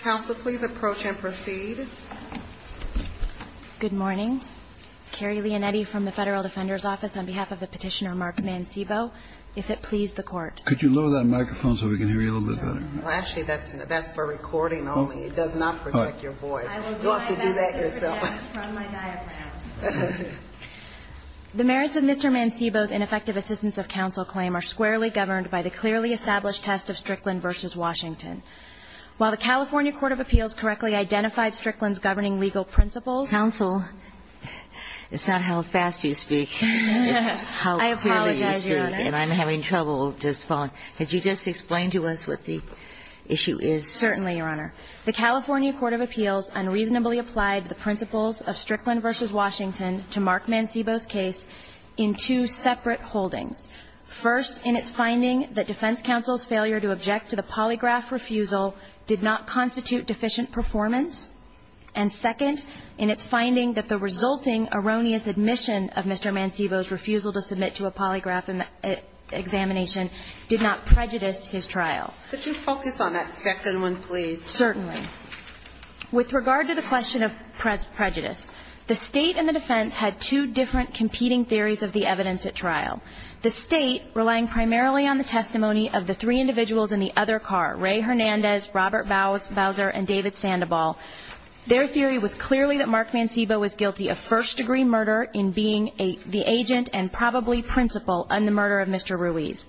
The merits of Mr. Mancebo's ineffective assistance of counsel claim are squarely governed by the clearly established test of Strickland v. Washington. While the California Court of Appeals correctly identified Strickland's governing legal principles Counsel, it's not how fast you speak, it's how clearly you speak, and I'm having trouble with this phone. Could you just explain to us what the issue is? Certainly, Your Honor. The California Court of Appeals unreasonably applied the principles of Strickland v. Washington to mark Mancebo's case in two separate holdings. First, in its finding that defense counsel's failure to object to the polygraph refusal did not constitute deficient performance. And second, in its finding that the resulting erroneous admission of Mr. Mancebo's refusal to submit to a polygraph examination did not prejudice his trial. Could you focus on that second one, please? Certainly. With regard to the question of prejudice, the State and the defense had two different competing theories of the evidence at trial. The State, relying primarily on the testimony of the three individuals in the other car, Ray Hernandez, Robert Bowser, and David Sandoval. Their theory was clearly that Mark Mancebo was guilty of first-degree murder in being the agent and probably principal in the murder of Mr. Ruiz.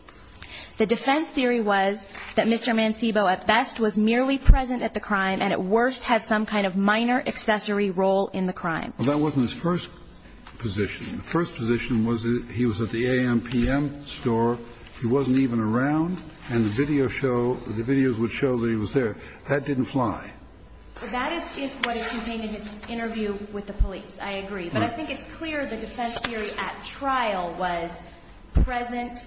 The defense theory was that Mr. Mancebo at best was merely present at the crime and at worst had some kind of minor accessory role in the crime. Well, that wasn't his first position. The first position was that he was at the A.M.P.M. store, he wasn't even around, and the video show, the videos would show that he was there. That didn't fly. That is if what is contained in his interview with the police. I agree. But I think it's clear the defense theory at trial was present,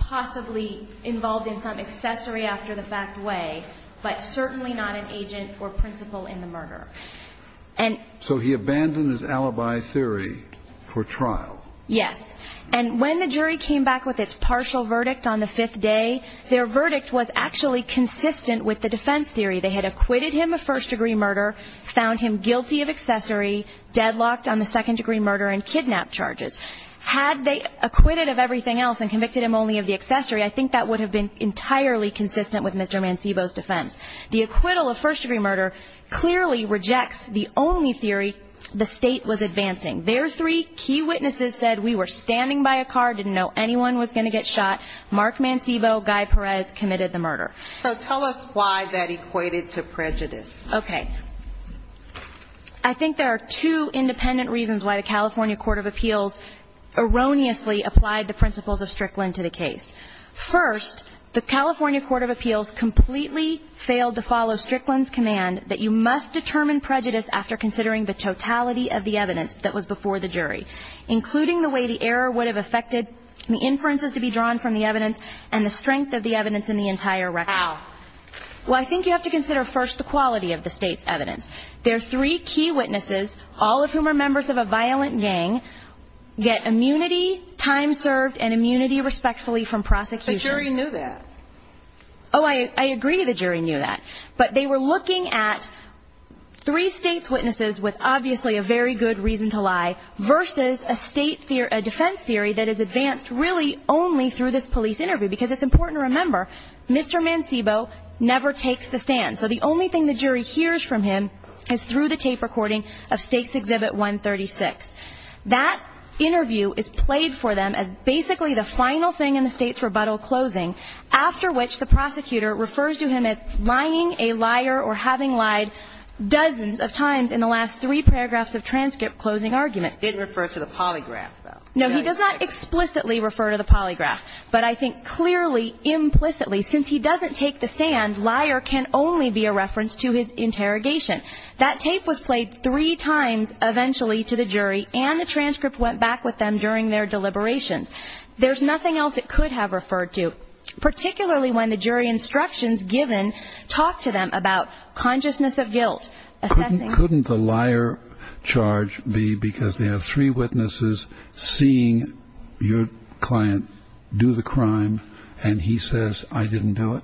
possibly involved in some accessory after-the-fact way, but certainly not an agent or principal in the murder. So he abandoned his alibi theory for trial? Yes. And when the jury came back with its partial verdict on the fifth day, their verdict was actually consistent with the defense theory. They had acquitted him of first-degree murder, found him guilty of accessory, deadlocked on the second-degree murder, and kidnapped charges. Had they acquitted of everything else and convicted him only of the accessory, I think that would have been entirely consistent with Mr. Mancebo's defense. The acquittal of first-degree murder clearly rejects the only theory the state was advancing. Their three key witnesses said, we were standing by a car, didn't know anyone was going to get shot. Mark Mancebo, Guy Perez committed the murder. So tell us why that equated to prejudice. Okay. I think there are two independent reasons why the California Court of Appeals erroneously applied the principles of Strickland to the case. First, the California Court of Appeals completely failed to follow Strickland's command that you must determine prejudice after considering the totality of the evidence that was before the jury, including the way the error would have affected the inferences to be drawn from the evidence and the strength of the evidence in the entire record. How? Well, I think you have to consider first the quality of the state's evidence. Their three key witnesses, all of whom are members of a violent gang, get immunity, time served, and immunity respectfully from prosecution. The jury knew that. Oh, I agree the jury knew that. But they were looking at three states' witnesses with obviously a very good reason to lie versus a defense theory that is advanced really only through this police interview. Because it's important to remember, Mr. Mancebo never takes the stand. So the only thing the jury hears from him is through the tape recording of States Exhibit 136. That interview is played for them as basically the final thing in the State's rebuttal closing, after which the prosecutor refers to him as lying a liar or having lied dozens of times in the last three paragraphs of transcript closing argument. Didn't refer to the polygraph, though. No, he does not explicitly refer to the polygraph. But I think clearly, implicitly, since he doesn't take the stand, liar can only be a reference to his interrogation. That tape was played three times eventually to the jury, and the transcript went back with them during their deliberations. There's nothing else it could have referred to, particularly when the jury instructions given talk to them about consciousness of guilt, assessing... Do the crime, and he says, I didn't do it?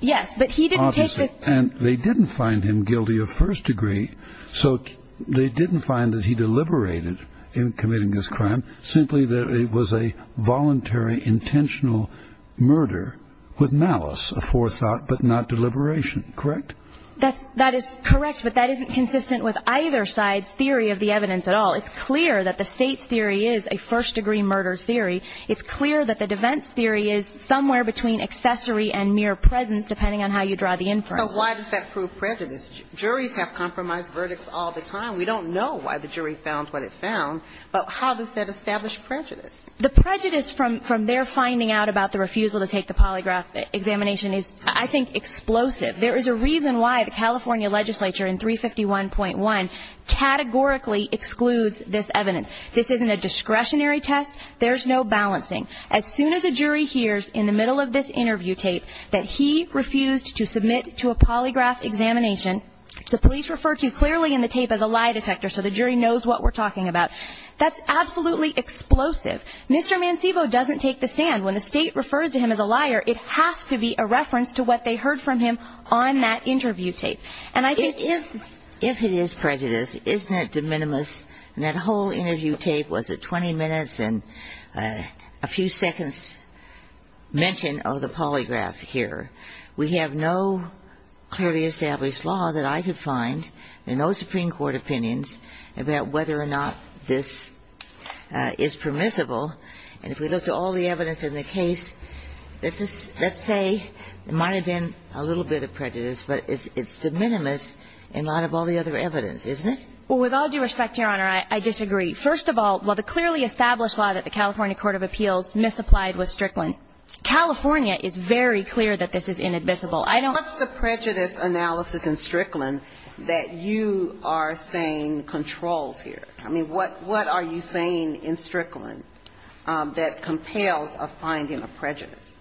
Yes, but he didn't take the... And they didn't find him guilty of first degree, so they didn't find that he deliberated in committing this crime, simply that it was a voluntary, intentional murder with malice, a forethought, but not deliberation. Correct? That is correct, but that isn't consistent with either side's theory of the evidence at all. It's clear that the State's theory is a first degree murder theory. It's clear that the defense theory is somewhere between accessory and mere presence, depending on how you draw the inference. So why does that prove prejudice? Juries have compromised verdicts all the time. We don't know why the jury found what it found, but how does that establish prejudice? The prejudice from their finding out about the refusal to take the polygraph examination is, I think, explosive. There is a reason why the California legislature in 351.1 categorically excludes this evidence. This isn't a discretionary test. There's no balancing. As soon as a jury hears, in the middle of this interview tape, that he refused to submit to a polygraph examination, which the police refer to clearly in the tape as a lie detector, so the jury knows what we're talking about, that's absolutely explosive. Mr. Mancebo doesn't take the stand. When the State refers to him as a liar, it has to be a reference to what they heard from him on that interview tape. And I think if it is prejudice, isn't that de minimis? And that whole interview tape was a 20 minutes and a few seconds mention of the polygraph here. We have no clearly established law that I could find. There are no Supreme Court opinions about whether or not this is permissible. And if we look to all the evidence in the case, let's say it might have been a little bit of prejudice, but it's de minimis in light of all the other evidence, isn't it? Well, with all due respect, Your Honor, I disagree. First of all, while the clearly established law that the California Court of Appeals misapplied was strickland, California is very clear that this is inadmissible. What's the prejudice analysis in strickland that you are saying controls here? I mean, what are you saying in strickland that compels a finding of prejudice?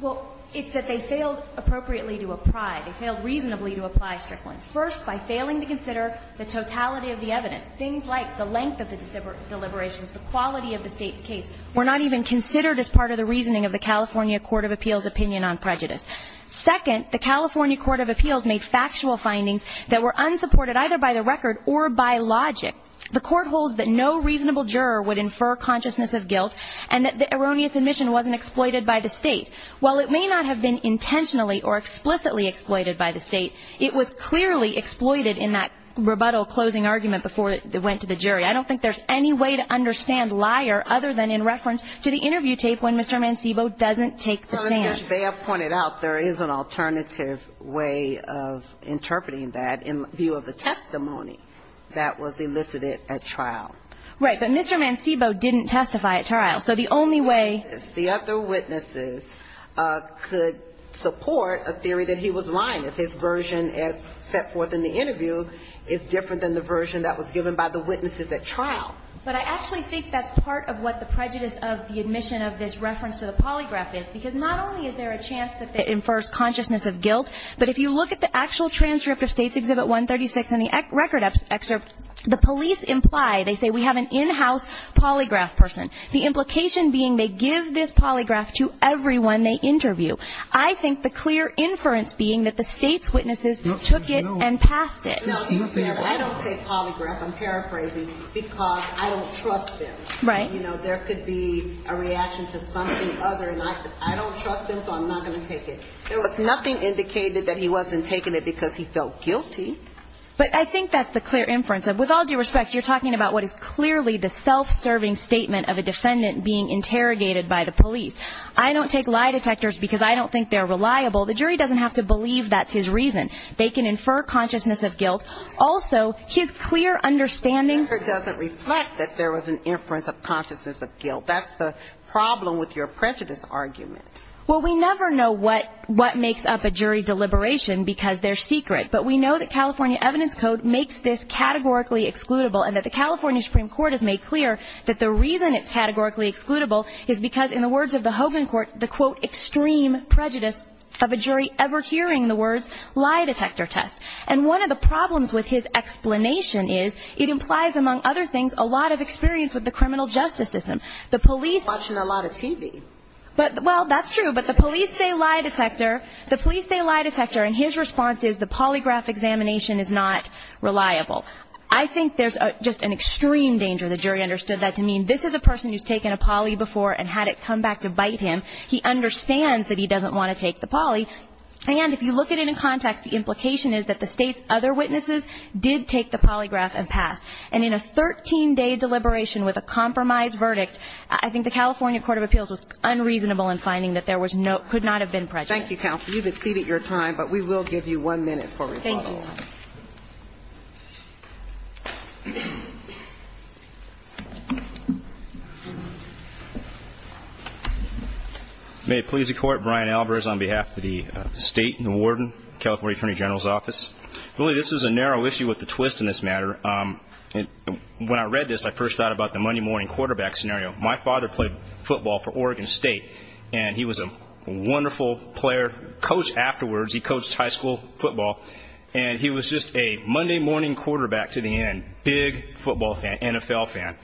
Well, it's that they failed appropriately to apply. They failed reasonably to apply strickland. First, by failing to consider the totality of the evidence. Things like the length of the deliberations, the quality of the State's case. Were not even considered as part of the reasoning of the California Court of Appeals opinion on prejudice. Second, the California Court of Appeals made factual findings that were unsupported either by the record or by logic. The court holds that no reasonable juror would infer consciousness of guilt, and that the erroneous admission wasn't exploited by the State. While it may not have been intentionally or explicitly exploited by the State, it was clearly exploited in that rebuttal closing argument before it went to the jury. I don't think there's any way to understand liar other than in reference to the interview tape when Mr. Mancebo doesn't take the stand. Well, as Ms. Baird pointed out, there is an alternative way of interpreting that in view of the testimony that was elicited at trial. Right, but Mr. Mancebo didn't testify at trial, so the only way... The other witnesses could support a theory that he was lying if his version as set forth in the interview is different than the version that was given by the witnesses at trial. But I actually think that's part of what the prejudice of the admission of this reference to the polygraph is, because not only is there a chance that it infers consciousness of guilt, but if you look at the actual Transcript of States Exhibit 136 in the record excerpt, the police imply, they say, we have an in-house polygraph person. The implication being they give this polygraph to everyone they interview. I think the clear inference being that the State's witnesses took it and passed it. I don't take polygraph, I'm paraphrasing, because I don't trust them. There could be a reaction to something other, and I don't trust them, so I'm not going to take it. There was nothing indicated that he wasn't taking it because he felt guilty. But I think that's the clear inference. With all due respect, you're talking about what is clearly the self-serving statement of a defendant being interrogated by the police. I don't take lie detectors because I don't think they're reliable. The jury doesn't have to believe that's his reason. They can infer consciousness of guilt. Also, his clear understanding... The record doesn't reflect that there was an inference of consciousness of guilt. That's the problem with your prejudice argument. Well, we never know what makes up a jury deliberation because they're secret, but we know that California Evidence Code makes this categorically excludable and that the California Supreme Court has made clear that the reason it's categorically excludable is because in the words of the Hogan Court, the quote, of a jury ever hearing the words lie detector test. And one of the problems with his explanation is it implies, among other things, a lot of experience with the criminal justice system. The police... Watching a lot of TV. Well, that's true, but the police say lie detector. The police say lie detector, and his response is the polygraph examination is not reliable. I think there's just an extreme danger, the jury understood that, to mean this is a person who's taken a poly before and had it come back to bite him. He understands that he doesn't want to take the poly, and if you look at it in context, the implication is that the State's other witnesses did take the polygraph and pass. And in a 13-day deliberation with a compromised verdict, I think the California Court of Appeals was unreasonable in finding that there was no, could not have been prejudice. Thank you, counsel. You've exceeded your time, but we will give you one minute for rebuttal. Thank you. May it please the Court. Brian Albers on behalf of the State and the Warden, California Attorney General's Office. Really, this is a narrow issue with the twist in this matter. When I read this, I first thought about the Monday morning quarterback scenario. My father played football for Oregon State, and he was a wonderful player, coach afterwards. He coached high school football, and he was just a Monday morning quarterback to the end. Big football fan, NFL fan.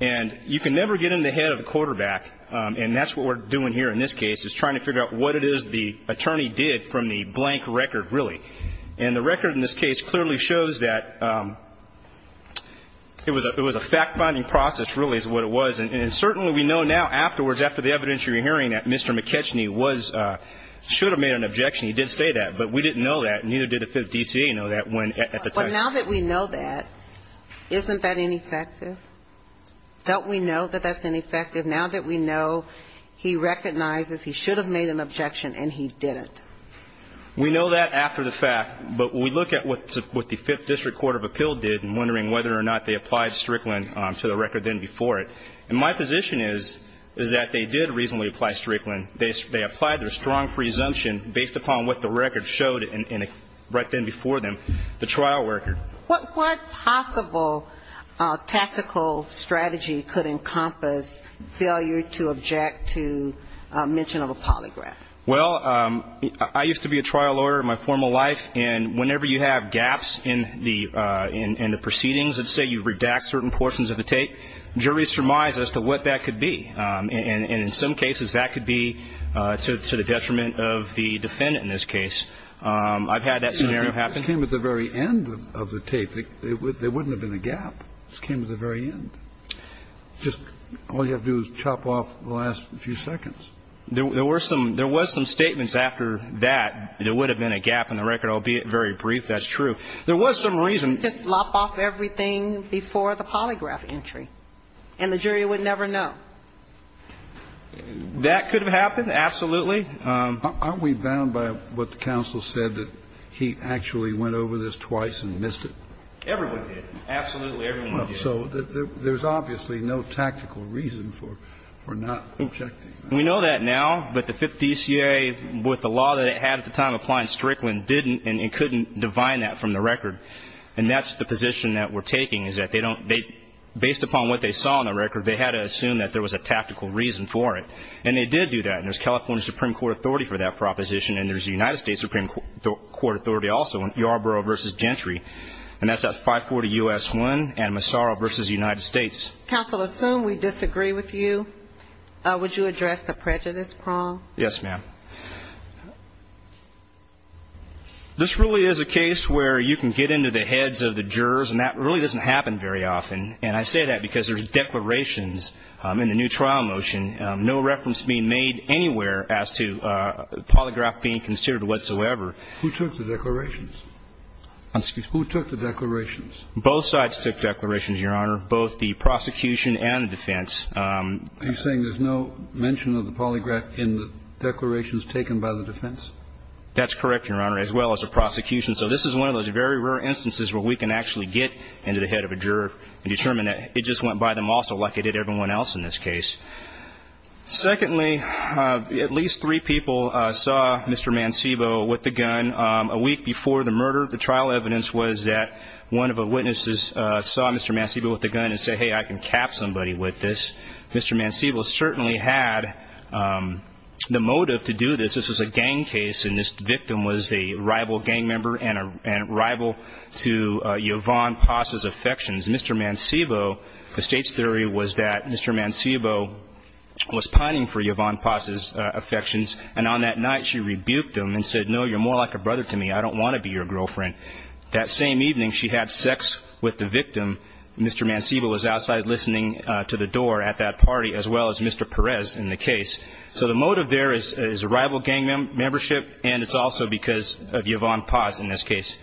And you can never get in the head of the quarterback, and that's what we're doing here in this case, is trying to figure out what it is the attorney did from the blank record, really. And the record in this case clearly shows that it was a fact-finding process, really, is what it was. And certainly we know now afterwards, after the evidence you're hearing, that Mr. McKechnie was, should have made an objection. He did say that, but we didn't know that, and neither did the Fifth D.C.A. know that when, at the time. So now that we know that, isn't that ineffective? Don't we know that that's ineffective now that we know he recognizes he should have made an objection, and he didn't? We know that after the fact, but we look at what the Fifth District Court of Appeal did and wondering whether or not they applied Strickland to the record then before it. And my position is that they did reasonably apply Strickland. They applied their strong presumption based upon what the record showed right then before them, the trial record. What possible tactical strategy could encompass failure to object to mention of a polygraph? Well, I used to be a trial lawyer in my formal life, and whenever you have gaps in the proceedings, let's say you redact certain portions of the tape, juries surmise as to what that could be. And in some cases, that could be to the detriment of the defendant in this case. I've had that scenario happen. It came at the very end of the tape. There wouldn't have been a gap. It just came at the very end. Just all you have to do is chop off the last few seconds. There were some statements after that. There would have been a gap in the record, albeit very brief. That's true. There was some reason. You could just lop off everything before the polygraph entry, and the jury would never know. That could have happened, absolutely. Aren't we bound by what the counsel said, that he actually went over this twice and missed it? Everyone did. Absolutely, everyone did. So there's obviously no tactical reason for not objecting. We know that now, but the Fifth DCA, with the law that it had at the time applying Strickland, didn't and couldn't divine that from the record. And that's the position that we're taking, is that they don't, based upon what they saw in the record, they had to assume that there was a tactical reason for it. And they did do that. And there's California Supreme Court authority for that proposition, and there's the United States Supreme Court authority also in Yarborough v. Gentry. And that's at 540 U.S. 1 and Massaro v. United States. Counsel, assume we disagree with you. Would you address the prejudice prong? Yes, ma'am. This really is a case where you can get into the heads of the jurors, and that really doesn't happen very often. And I say that because there's declarations in the new trial motion, no reference being made anywhere as to polygraph being considered whatsoever. Who took the declarations? Excuse me. Who took the declarations? Both sides took declarations, Your Honor, both the prosecution and the defense. Are you saying there's no mention of the polygraph in the declarations taken by the defense? That's correct, Your Honor, as well as the prosecution. So this is one of those very rare instances where we can actually get into the head of a juror and determine that it just went by them also like it did everyone else in this case. Secondly, at least three people saw Mr. Mancebo with the gun a week before the murder. The trial evidence was that one of the witnesses saw Mr. Mancebo with the gun and said, hey, I can cap somebody with this. Mr. Mancebo certainly had the motive to do this. This was a gang case, and this victim was a rival gang member and a rival to Yvonne Paz's affections. Mr. Mancebo, the state's theory was that Mr. Mancebo was pining for Yvonne Paz's affections, and on that night she rebuked him and said, no, you're more like a brother to me. I don't want to be your girlfriend. That same evening, she had sex with the victim. Mr. Mancebo was outside listening to the door at that party, as well as Mr. Perez in the case. So the motive there is rival gang membership, and it's also because of Yvonne Paz in this case.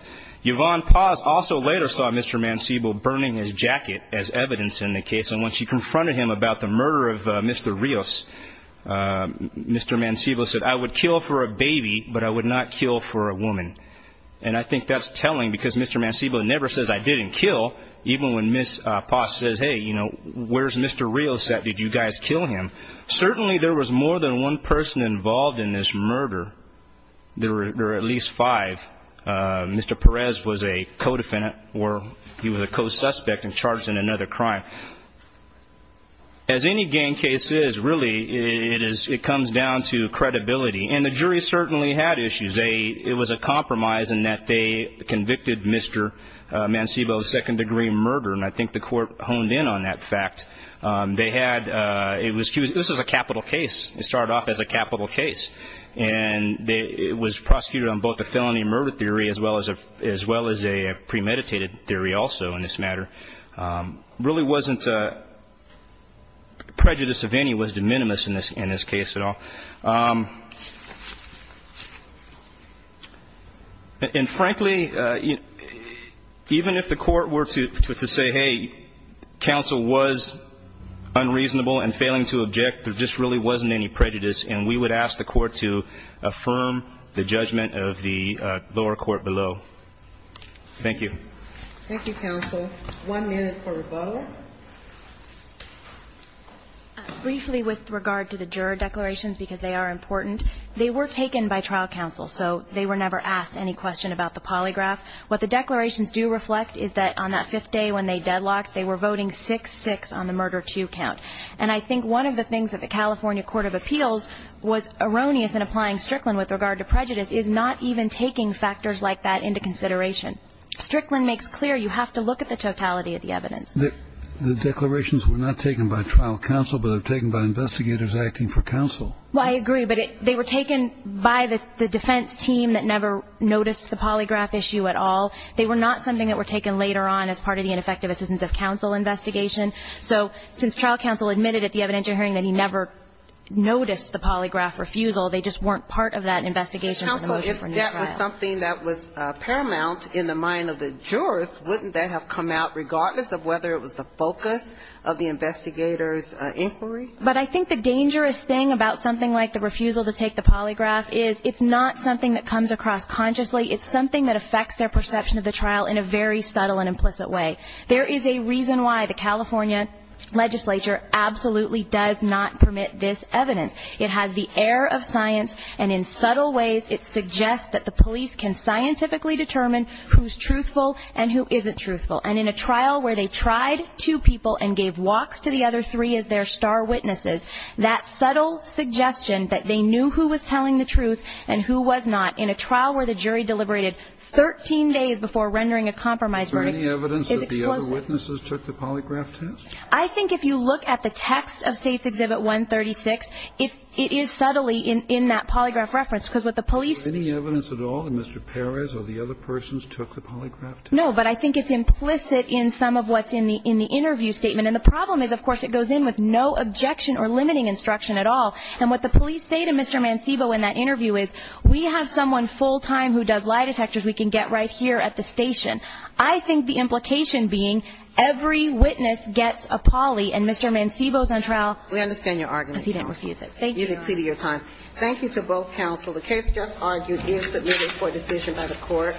Yvonne Paz also later saw Mr. Mancebo burning his jacket as evidence in the case, and when she confronted him about the murder of Mr. Rios, Mr. Mancebo said, I would kill for a baby, but I would not kill for a woman. And I think that's telling, because Mr. Mancebo never says, I didn't kill, even when Ms. Paz says, hey, you know, where's Mr. Rios at? Did you guys kill him? Certainly there was more than one person involved in this murder. There were at least five. Mr. Perez was a co-defendant, or he was a co-suspect and charged in another crime. As any gang case is, really, it comes down to credibility, and the jury certainly had issues. It was a compromise in that they convicted Mr. Mancebo of second-degree murder, and I think the court honed in on that fact. They had, it was, this was a capital case. It started off as a capital case. And it was prosecuted on both a felony murder theory as well as a premeditated theory also in this matter. Really wasn't prejudice of any was de minimis in this case at all. And frankly, even if the court were to say, hey, counsel was unreasonable and failing to object, there just really wasn't any prejudice, and we would ask the court to affirm the judgment of the lower court below. Thank you. Thank you, counsel. One minute for rebuttal. Briefly with regard to the juror declarations, because they are important, they were taken by trial counsel, so they were never asked any question about the polygraph. What the declarations do reflect is that on that fifth day when they deadlocked, they were voting 6-6 on the murder two count. And I think one of the things that the California Court of Appeals was erroneous in applying Strickland with regard to prejudice is not even taking factors like that into consideration. Strickland makes clear you have to look at the totality of the evidence. The declarations were not taken by trial counsel, but they were taken by investigators acting for counsel. Well, I agree, but they were taken by the defense team that never noticed the polygraph issue at all. They were not something that were taken later on as part of the ineffective assistance of counsel investigation. So since trial counsel admitted at the evidentiary hearing that he never noticed the polygraph refusal, they just weren't part of that investigation. Counsel, if that was something that was paramount in the mind of the jurist, wouldn't that have come out regardless of whether it was the focus of the investigator's inquiry? But I think the dangerous thing about something like the refusal to take the polygraph is it's not something that comes across consciously. It's something that affects their perception of the trial in a very subtle and implicit way. There is a reason why the California legislature absolutely does not permit this evidence. It has the air of science and in subtle ways it suggests that the police can scientifically determine who's truthful and who isn't truthful. And in a trial where they tried two people and gave walks to the other three as their star witnesses, that subtle suggestion that they knew who was telling the truth and who was not in a trial where the jury deliberated 13 days before rendering a compromise verdict is explosive. Is there any evidence that the other witnesses took the polygraph test? I think if you look at the text of State's Exhibit 136, it is subtly in that polygraph reference. Because what the police see... Is there any evidence at all that Mr. Perez or the other persons took the polygraph test? No, but I think it's implicit in some of what's in the interview statement. And the problem is, of course, it goes in with no objection or limiting instruction at all. And what the police say to Mr. Mancebo in that interview is, we have someone full We have all the architectures we can get right here at the station. I think the implication being, every witness gets a poly, and Mr. Mancebo's on trial. We understand your argument. Because he didn't refuse it. Thank you. You've exceeded your time. Thank you to both counsel. The case just argued is submitted for decision by the court.